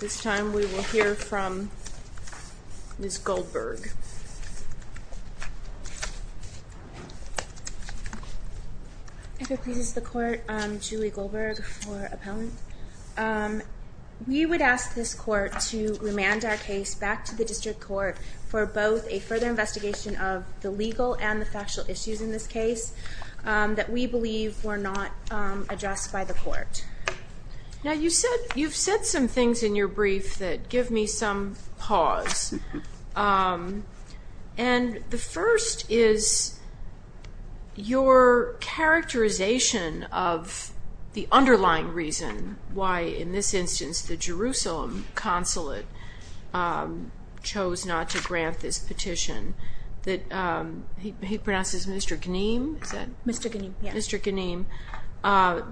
This time we will hear from Ms. Goldberg. It pleases the court, Julie Goldberg for appellant. We would ask this court to remand our case back to the district court for both a further investigation of the legal and the factual issues in this case that we believe were not addressed by the court. Now you've said some things in your brief that give me some pause. And the first is your characterization of the underlying reason why in this instance the Jerusalem consulate chose not to grant this petition. He pronounces Mr. Ganim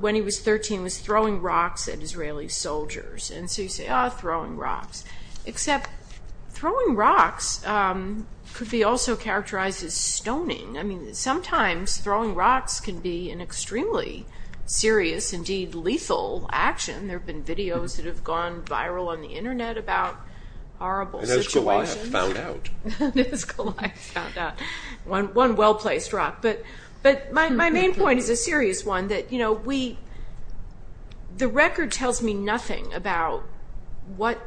when he was 13 was throwing rocks at Israeli soldiers. And so you say, oh, throwing rocks. Except throwing rocks could be also characterized as stoning. I mean, sometimes throwing rocks can be an extremely serious, indeed lethal, action. There have been videos that have gone viral on the Internet about horrible situations. I have found out. One well-placed rock. But my main point is a serious one, that the record tells me nothing about what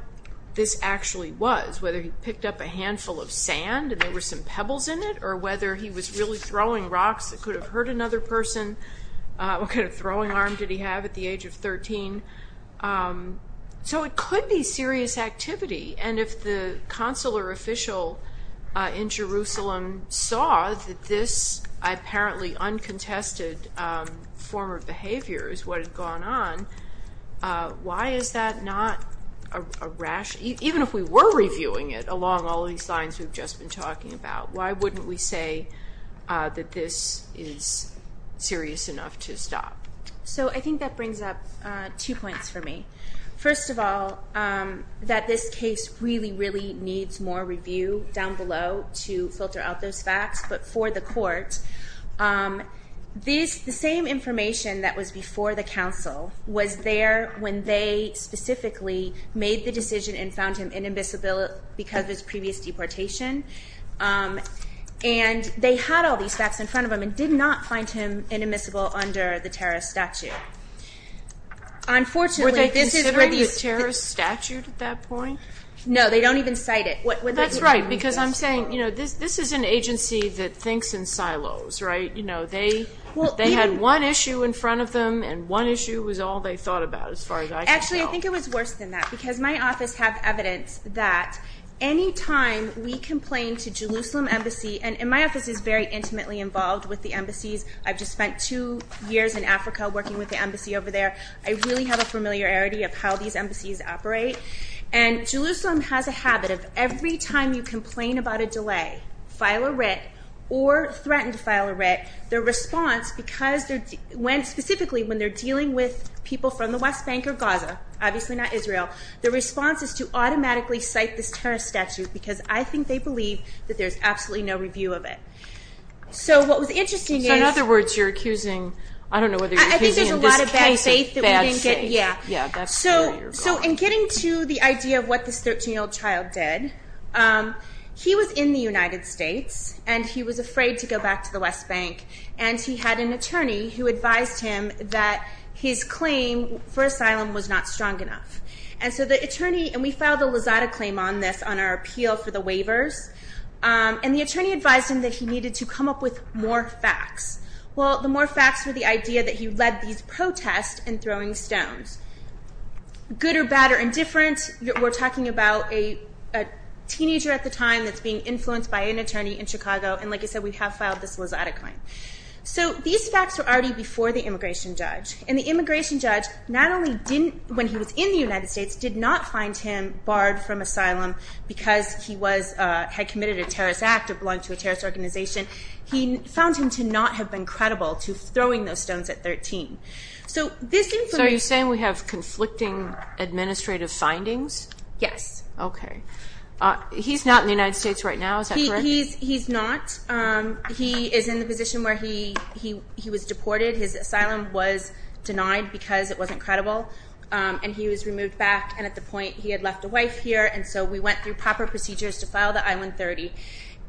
this actually was, whether he picked up a handful of sand and there were some pebbles in it, or whether he was really throwing rocks that could have hurt another person. What kind of throwing arm did he have at the age of 13? So it could be serious activity. And if the consular official in Jerusalem saw that this apparently uncontested form of behavior is what had gone on, why is that not a rash? Even if we were reviewing it along all these lines we've just been talking about, why wouldn't we say that this is serious enough to stop? So I think that brings up two points for me. First of all, that this case really, really needs more review down below to filter out those facts. But for the court, the same information that was before the counsel was there when they specifically made the decision and found him inadmissible because of his previous deportation. And they had all these facts in front of them and did not find him inadmissible under the terrorist statute. Were they considering the terrorist statute at that point? No, they don't even cite it. That's right, because I'm saying this is an agency that thinks in silos, right? They had one issue in front of them and one issue was all they thought about as far as I could tell. Actually, I think it was worse than that because my office had evidence that any time we complained to Jerusalem Embassy, and my office is very intimately involved with the embassies. I've just spent two years in Africa working with the embassy over there. I really have a familiarity of how these embassies operate. And Jerusalem has a habit of every time you complain about a delay, file a writ, or threaten to file a writ, their response, specifically when they're dealing with people from the West Bank or Gaza, obviously not Israel, their response is to automatically cite this terrorist statute because I think they believe that there's absolutely no review of it. So what was interesting is... So in other words, you're accusing, I don't know whether you're accusing this case of bad faith. I think there's a lot of bad faith that we didn't get. Yeah, that's where you're going. So in getting to the idea of what this 13-year-old child did, he was in the United States and he was afraid to go back to the West Bank. And he had an attorney who advised him that his claim for asylum was not strong enough. And so the attorney, and we filed a Lozada claim on this on our appeal for the waivers, and the attorney advised him that he needed to come up with more facts. Well, the more facts were the idea that he led these protests and throwing stones. Good or bad or indifferent, we're talking about a teenager at the time that's being influenced by an attorney in Chicago. And like I said, we have filed this Lozada claim. So these facts were already before the immigration judge. And the immigration judge not only didn't, when he was in the United States, did not find him barred from asylum because he had committed a terrorist act or belonged to a terrorist organization. He found him to not have been credible to throwing those stones at 13. So are you saying we have conflicting administrative findings? Yes. Okay. He's not in the United States right now, is that correct? He's not. He is in the position where he was deported. His asylum was denied because it wasn't credible. And he was removed back. And at the point, he had left a wife here. And so we went through proper procedures to file the I-130.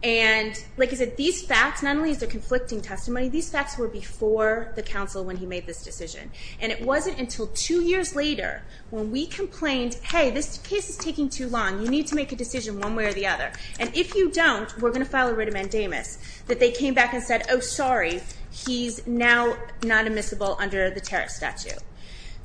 And like I said, these facts, not only is there conflicting testimony, these facts were before the counsel when he made this decision. And it wasn't until two years later when we complained, hey, this case is taking too long. You need to make a decision one way or the other. And if you don't, we're going to file a writ of mandamus, that they came back and said, oh, sorry, he's now not admissible under the terrorist statute.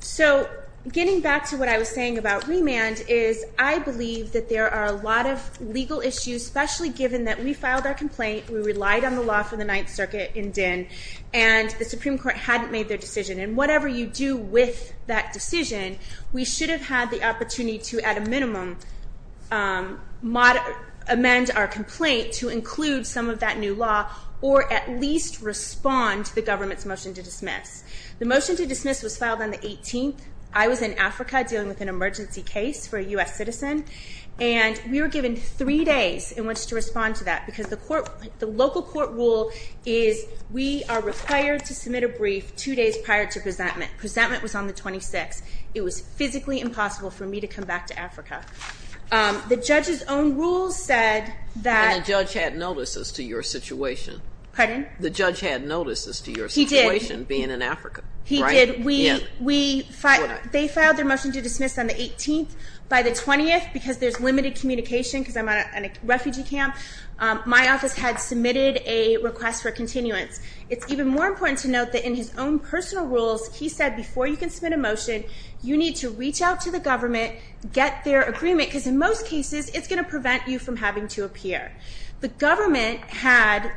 So getting back to what I was saying about remand is I believe that there are a lot of legal issues, especially given that we filed our complaint, we relied on the law for the Ninth Circuit in Dinh, and the Supreme Court hadn't made their decision. And whatever you do with that decision, we should have had the opportunity to, at a minimum, amend our complaint to include some of that new law or at least respond to the government's motion to dismiss. The motion to dismiss was filed on the 18th. I was in Africa dealing with an emergency case for a U.S. citizen, and we were given three days in which to respond to that because the local court rule is we are required to submit a brief two days prior to presentment. Presentment was on the 26th. It was physically impossible for me to come back to Africa. The judge's own rules said that — And the judge had notice as to your situation. Pardon? The judge had notice as to your situation — He did. They filed their motion to dismiss on the 18th. By the 20th, because there's limited communication because I'm at a refugee camp, my office had submitted a request for continuance. It's even more important to note that in his own personal rules, he said before you can submit a motion, you need to reach out to the government, get their agreement, because in most cases, it's going to prevent you from having to appear. The government had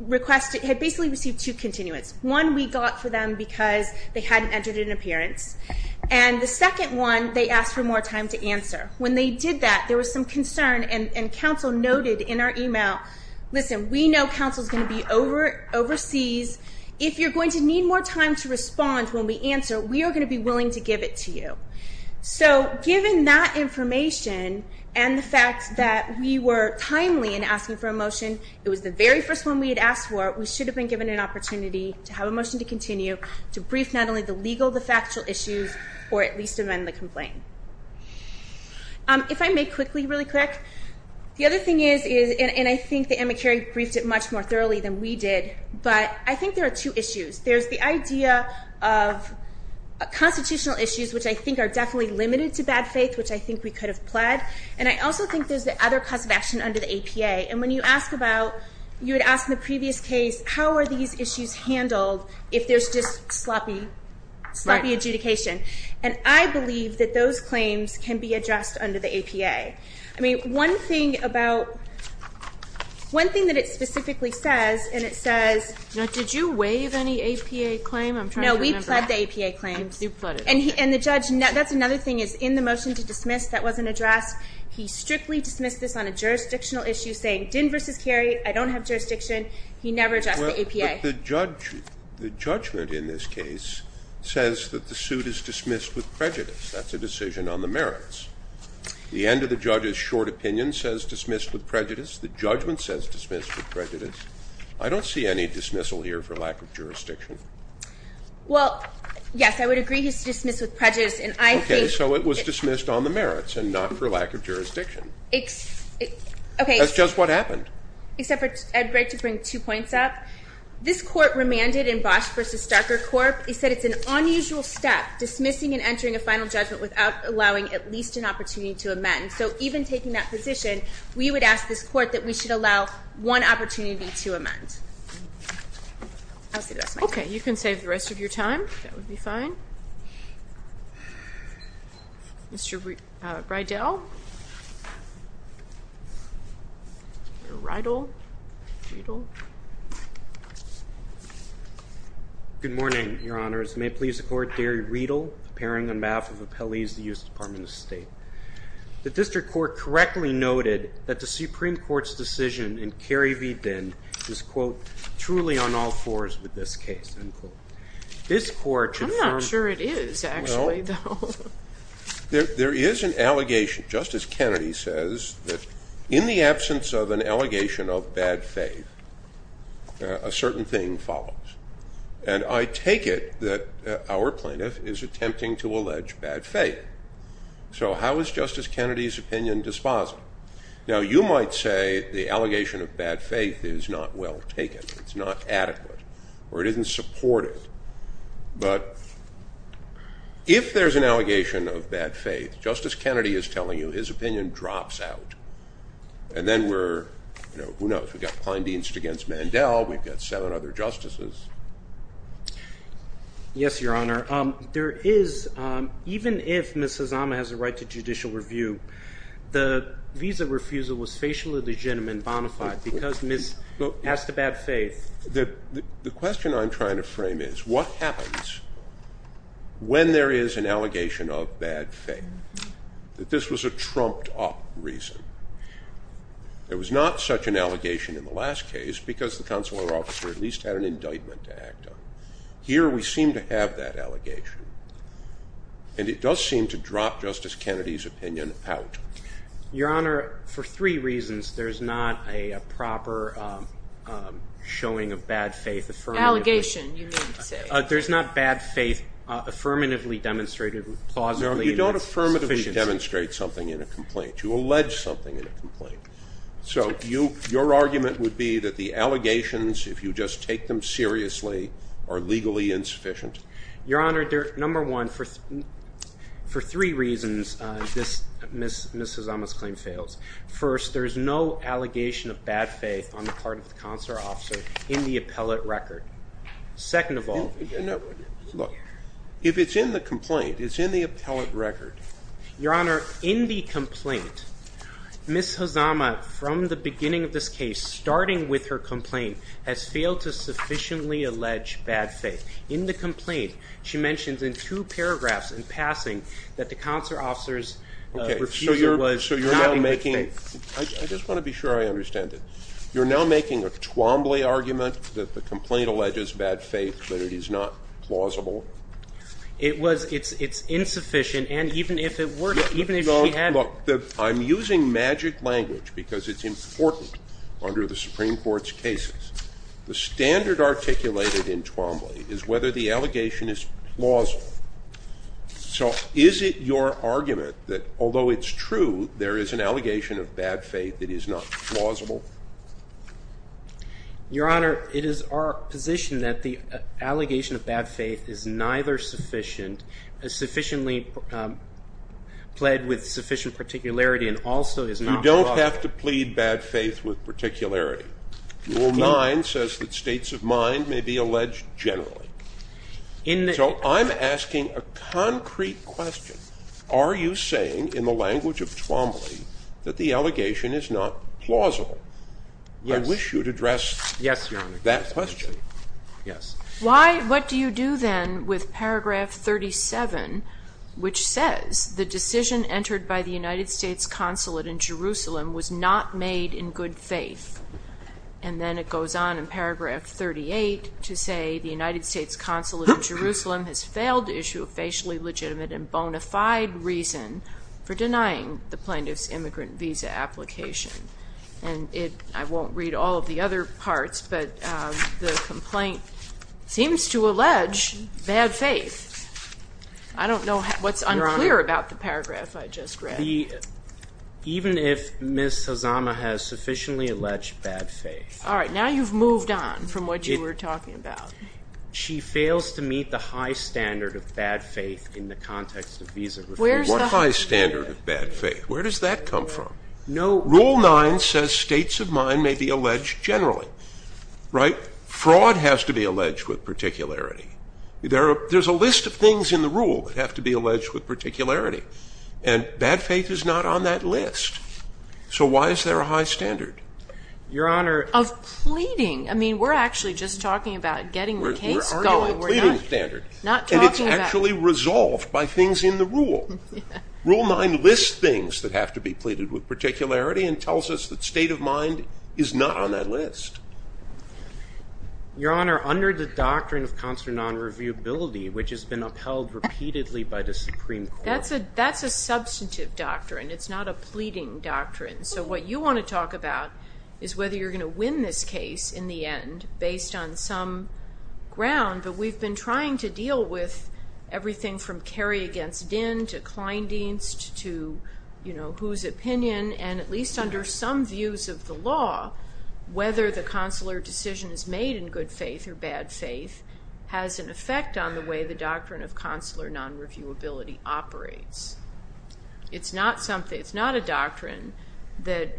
basically received two continuance. One we got for them because they hadn't entered an appearance, and the second one, they asked for more time to answer. When they did that, there was some concern, and counsel noted in our email, listen, we know counsel's going to be overseas. If you're going to need more time to respond when we answer, we are going to be willing to give it to you. So given that information and the fact that we were timely in asking for a motion, it was the very first one we had asked for, we should have been given an opportunity to have a motion to continue to brief not only the legal, the factual issues, or at least amend the complaint. If I may quickly, really quick, the other thing is, and I think the Amicare briefed it much more thoroughly than we did, but I think there are two issues. There's the idea of constitutional issues, which I think are definitely limited to bad faith, which I think we could have pled, and I also think there's the other cause of action under the APA, and when you ask about, you would ask in the previous case, how are these issues handled if there's just sloppy adjudication? And I believe that those claims can be addressed under the APA. I mean, one thing about, one thing that it specifically says, and it says. Did you waive any APA claim? No, we pled the APA claims. And the judge, that's another thing, is in the motion to dismiss that wasn't addressed, he strictly dismissed this on a jurisdictional issue, saying, Din versus Kerry, I don't have jurisdiction. He never addressed the APA. But the judge, the judgment in this case says that the suit is dismissed with prejudice. That's a decision on the merits. The end of the judge's short opinion says dismissed with prejudice. The judgment says dismissed with prejudice. I don't see any dismissal here for lack of jurisdiction. Well, yes, I would agree he's dismissed with prejudice, and I think. Okay, so it was dismissed on the merits and not for lack of jurisdiction. Okay. That's just what happened. Except for, I'd like to bring two points up. This court remanded in Bosch versus Starker Corp, it said it's an unusual step, dismissing and entering a final judgment without allowing at least an opportunity to amend. So even taking that position, we would ask this court that we should allow one opportunity to amend. Okay, you can save the rest of your time. That would be fine. Mr. Riedel. Riedel. Good morning, Your Honors. May it please the Court, Gary Riedel, appearing on behalf of appellees of the U.S. Department of State. The district court correctly noted that the Supreme Court's decision in Kerry v. Binn is, quote, I'm not sure it is, actually, though. There is an allegation. Justice Kennedy says that in the absence of an allegation of bad faith, a certain thing follows. And I take it that our plaintiff is attempting to allege bad faith. So how is Justice Kennedy's opinion dispositive? Now, you might say the allegation of bad faith is not well taken, it's not adequate, or it isn't supported. But if there's an allegation of bad faith, Justice Kennedy is telling you his opinion drops out. And then we're, you know, who knows? We've got Kleindienst against Mandel. We've got seven other justices. Yes, Your Honor. There is, even if Ms. Hazama has a right to judicial review, the visa refusal was facially legitimate and bona fide because Ms. asked about faith. The question I'm trying to frame is, what happens when there is an allegation of bad faith? This was a trumped-up reason. It was not such an allegation in the last case because the consular officer at least had an indictment to act on. Here we seem to have that allegation. And it does seem to drop Justice Kennedy's opinion out. Your Honor, for three reasons, there's not a proper showing of bad faith affirmatively. Allegation, you mean to say. There's not bad faith affirmatively demonstrated plausibly. No, you don't affirmatively demonstrate something in a complaint. You allege something in a complaint. So your argument would be that the allegations, if you just take them seriously, are legally insufficient? Your Honor, number one, for three reasons, Ms. Hazama's claim fails. First, there is no allegation of bad faith on the part of the consular officer in the appellate record. Second of all. Look, if it's in the complaint, it's in the appellate record. Your Honor, in the complaint, Ms. Hazama, from the beginning of this case, starting with her complaint, has failed to sufficiently allege bad faith. In the complaint, she mentions in two paragraphs in passing that the consular officer's refusal was having bad faith. I just want to be sure I understand it. You're now making a Twombly argument that the complaint alleges bad faith, that it is not plausible? It's insufficient, and even if it were, even if she had. Look, I'm using magic language because it's important under the Supreme Court's cases. The standard articulated in Twombly is whether the allegation is plausible. So is it your argument that although it's true, there is an allegation of bad faith that is not plausible? Your Honor, it is our position that the allegation of bad faith is neither sufficient, is sufficiently pled with sufficient particularity, and also is not plausible. You don't have to plead bad faith with particularity. Rule 9 says that states of mind may be alleged generally. So I'm asking a concrete question. Are you saying in the language of Twombly that the allegation is not plausible? Yes. I wish you'd address that question. Yes, Your Honor. Yes. What do you do then with paragraph 37, which says, the decision entered by the United States consulate in Jerusalem was not made in good faith? And then it goes on in paragraph 38 to say, the United States consulate in Jerusalem has failed to issue a facially legitimate and bona fide reason for denying the plaintiff's immigrant visa application. And I won't read all of the other parts, but the complaint seems to allege bad faith. I don't know what's unclear about the paragraph I just read. Even if Ms. Hazama has sufficiently alleged bad faith. All right. Now you've moved on from what you were talking about. She fails to meet the high standard of bad faith in the context of visa reform. What high standard of bad faith? Where does that come from? No. Rule 9 says states of mind may be alleged generally. Right? Fraud has to be alleged with particularity. There's a list of things in the rule that have to be alleged with particularity. And bad faith is not on that list. So why is there a high standard? Your Honor. Of pleading. I mean, we're actually just talking about getting the case going. We're arguing a pleading standard. Not talking about. And it's actually resolved by things in the rule. Rule 9 lists things that have to be pleaded with particularity and tells us that state of mind is not on that list. Your Honor, under the doctrine of consular non-reviewability, which has been upheld repeatedly by the Supreme Court. That's a substantive doctrine. It's not a pleading doctrine. So what you want to talk about is whether you're going to win this case in the end based on some ground. But we've been trying to deal with everything from Kerry against Dinn to Kleindienst to, you know, whose opinion. And at least under some views of the law, whether the consular decision is made in good faith or bad faith has an effect on the way the doctrine of consular non-reviewability operates. It's not a doctrine that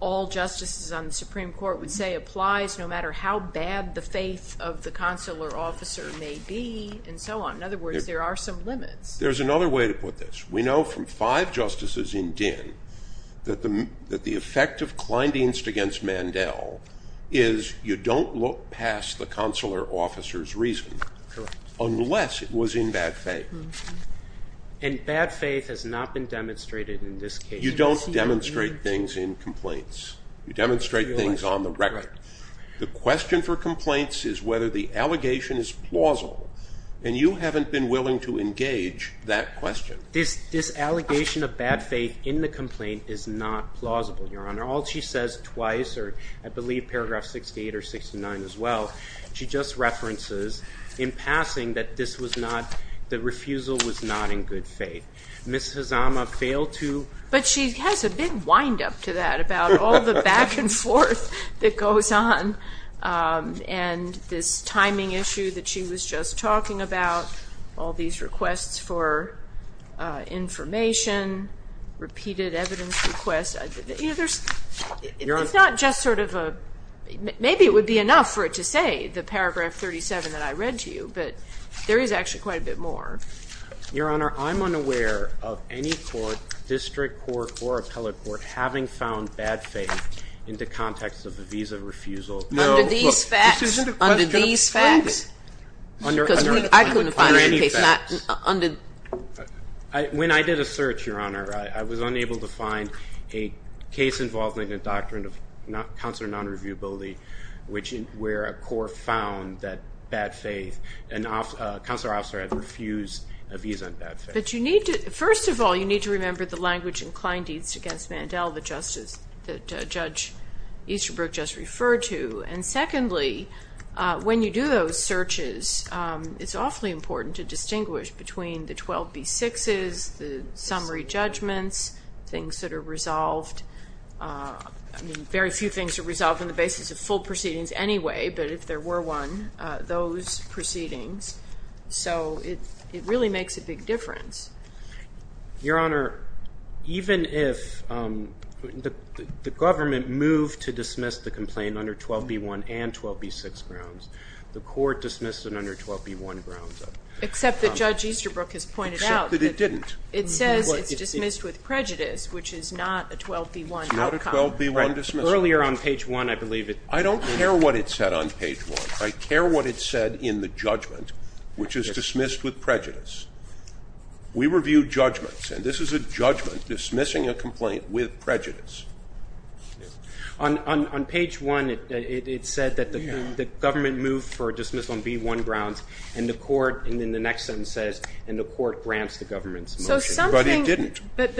all justices on the Supreme Court would say applies no matter how bad the faith of the consular officer may be and so on. In other words, there are some limits. There's another way to put this. We know from five justices in Dinn that the effect of Kleindienst against Mandel is you don't look past the consular officer's reason unless it was in bad faith. And bad faith has not been demonstrated in this case. You don't demonstrate things in complaints. You demonstrate things on the record. The question for complaints is whether the allegation is plausible, and you haven't been willing to engage that question. This allegation of bad faith in the complaint is not plausible, Your Honor. All she says twice, or I believe paragraph 68 or 69 as well, she just references in passing that this was not, the refusal was not in good faith. Ms. Hazama failed to. But she has a big windup to that about all the back and forth that goes on and this timing issue that she was just talking about, all these requests for information, repeated evidence requests. You know, there's, it's not just sort of a, maybe it would be enough for it to say the paragraph 37 that I read to you, but there is actually quite a bit more. Your Honor, I'm unaware of any court, district court or appellate court, having found bad faith in the context of the visa refusal. Under these facts, under these facts. Under any facts. When I did a search, Your Honor, I was unable to find a case involving a doctrine of counselor non-reviewability, where a court found that bad faith, and a counselor officer had refused a visa on bad faith. But you need to, first of all, you need to remember the language in Klein Deeds against Mandel, the justice that Judge Easterbrook just referred to. And secondly, when you do those searches, it's awfully important to distinguish between the 12B6s, the summary judgments, things that are resolved. I mean, very few things are resolved on the basis of full proceedings anyway, but if there were one, those proceedings. So it really makes a big difference. Your Honor, even if the government moved to dismiss the complaint under 12B1 and 12B6 grounds, the court dismissed it under 12B1 grounds. Except that Judge Easterbrook has pointed out. Except that it didn't. It says it's dismissed with prejudice, which is not a 12B1 outcome. It's not a 12B1 dismissal. Earlier on page 1, I believe it. I don't care what it said on page 1. I care what it said in the judgment, which is dismissed with prejudice. We review judgments, and this is a judgment dismissing a complaint with prejudice. On page 1, it said that the government moved for a dismissal on B1 grounds, and the court, and then the next sentence says, and the court grants the government's motion. But it didn't. But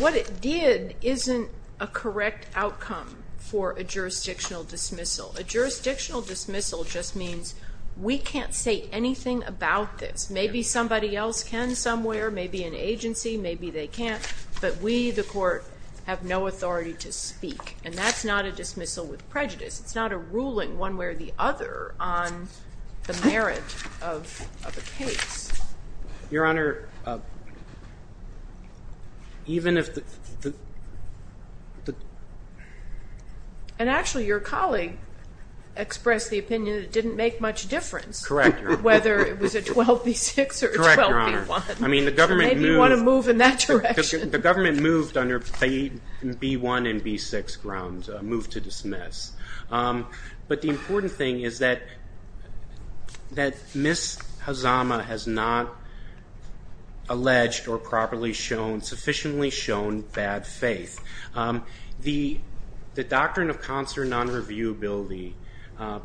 what it did isn't a correct outcome for a jurisdictional dismissal. A jurisdictional dismissal just means we can't say anything about this. Maybe somebody else can somewhere, maybe an agency, maybe they can't. But we, the court, have no authority to speak. And that's not a dismissal with prejudice. It's not a ruling one way or the other on the merit of a case. Your Honor, even if the ---- And actually, your colleague expressed the opinion it didn't make much difference. Correct, Your Honor. Whether it was a 12B6 or a 12B1. Correct, Your Honor. I mean, the government moved. Move in that direction. The government moved under B1 and B6 grounds, moved to dismiss. But the important thing is that Ms. Hazama has not alleged or properly shown, sufficiently shown, bad faith. The doctrine of consular non-reviewability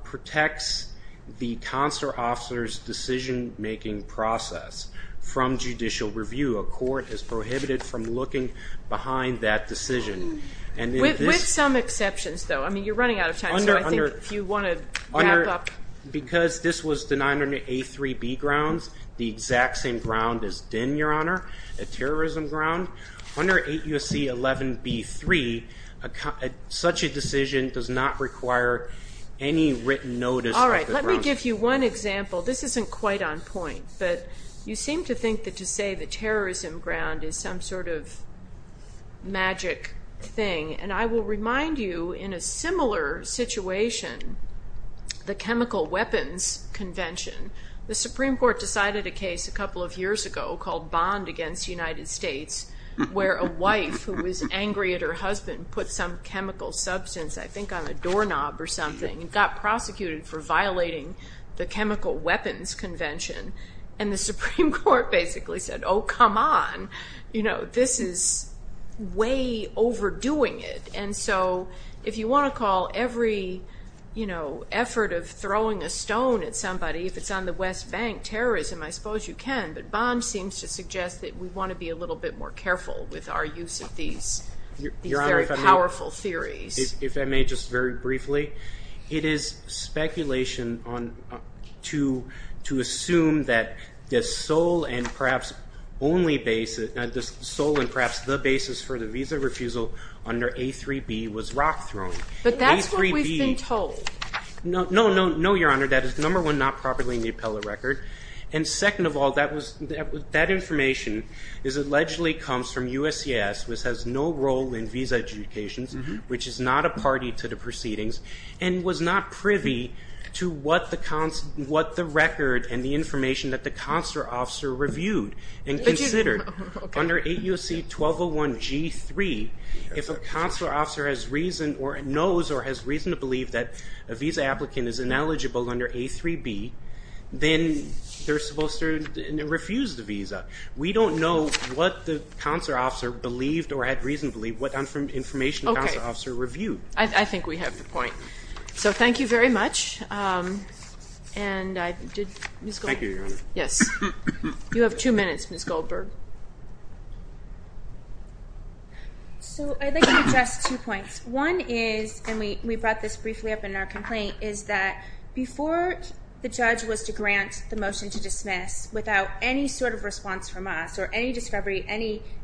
protects the consular officer's decision-making process from judicial review. A court is prohibited from looking behind that decision. With some exceptions, though. I mean, you're running out of time, so I think if you want to wrap up. Because this was denied under A3B grounds, the exact same ground as DEN, Your Honor, a terrorism ground. Under 8 U.S.C. 11B3, such a decision does not require any written notice. All right. Let me give you one example. This isn't quite on point. But you seem to think that to say the terrorism ground is some sort of magic thing. And I will remind you, in a similar situation, the chemical weapons convention. The Supreme Court decided a case a couple of years ago called Bond against the United States where a wife who was angry at her husband put some chemical substance, I think on a doorknob or something, and got prosecuted for violating the chemical weapons convention. And the Supreme Court basically said, oh, come on. You know, this is way overdoing it. And so if you want to call every, you know, effort of throwing a stone at somebody, if it's on the West Bank terrorism, I suppose you can. But Bond seems to suggest that we want to be a little bit more careful with our use of these very powerful theories. If I may, just very briefly. It is speculation to assume that the sole and perhaps only basis, the sole and perhaps the basis for the visa refusal under A3B was rock thrown. But that's what we've been told. No, no, no, no, Your Honor. That is, number one, not properly in the appellate record. And second of all, that information allegedly comes from USCIS, which has no role in visa adjudications, which is not a party to the proceedings, and was not privy to what the record and the information that the consular officer reviewed and considered. Under AUC 1201G3, if a consular officer has reason or knows or has reason to believe that a visa applicant is ineligible under A3B, then they're supposed to refuse the visa. We don't know what the consular officer believed or had reason to believe, what information the consular officer reviewed. Okay. I think we have the point. So thank you very much. Thank you, Your Honor. Yes. You have two minutes, Ms. Goldberg. So I'd like to address two points. One is, and we brought this briefly up in our complaint, is that before the judge was to grant the motion to dismiss, without any sort of response from us, or any discovery,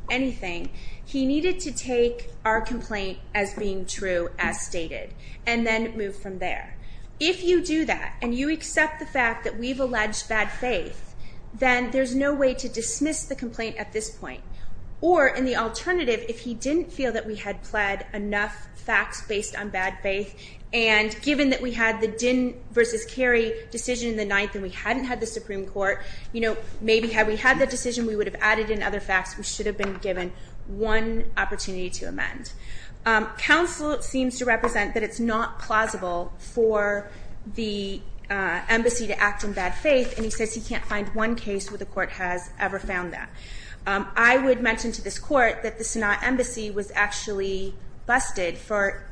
anything, he needed to take our complaint as being true, as stated, and then move from there. If you do that, and you accept the fact that we've alleged bad faith, then there's no way to dismiss the complaint at this point. Or, in the alternative, if he didn't feel that we had plead enough facts based on bad faith, and given that we had the Dinn versus Carey decision in the Supreme Court, you know, maybe had we had that decision, we would have added in other facts. We should have been given one opportunity to amend. Counsel seems to represent that it's not plausible for the embassy to act in bad faith, and he says he can't find one case where the court has ever found that. I would mention to this court that the Senate Embassy was actually busted for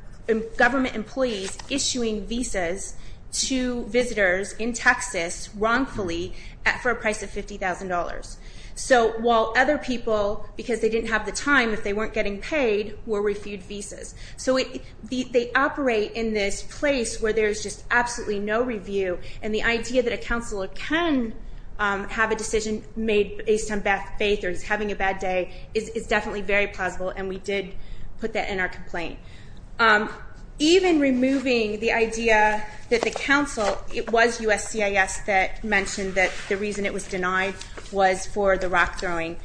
government employees issuing visas to visitors in Texas, wrongfully, for a price of $50,000. So while other people, because they didn't have the time, if they weren't getting paid, were refued visas. So they operate in this place where there's just absolutely no review, and the idea that a counselor can have a decision made based on bad faith, or he's having a bad day, is definitely very plausible, and we did put that in our complaint. Even removing the idea that the counsel, it was USCIS that mentioned that the reason it was denied was for the rock throwing.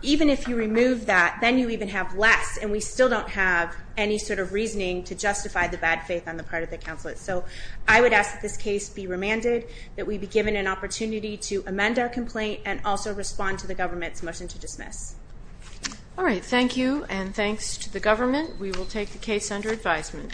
Even if you remove that, then you even have less, and we still don't have any sort of reasoning to justify the bad faith on the part of the counselor. So I would ask that this case be remanded, that we be given an opportunity to amend our complaint, and also respond to the government's motion to dismiss. All right. Thank you, and thanks to the government. We will take the case under advisement.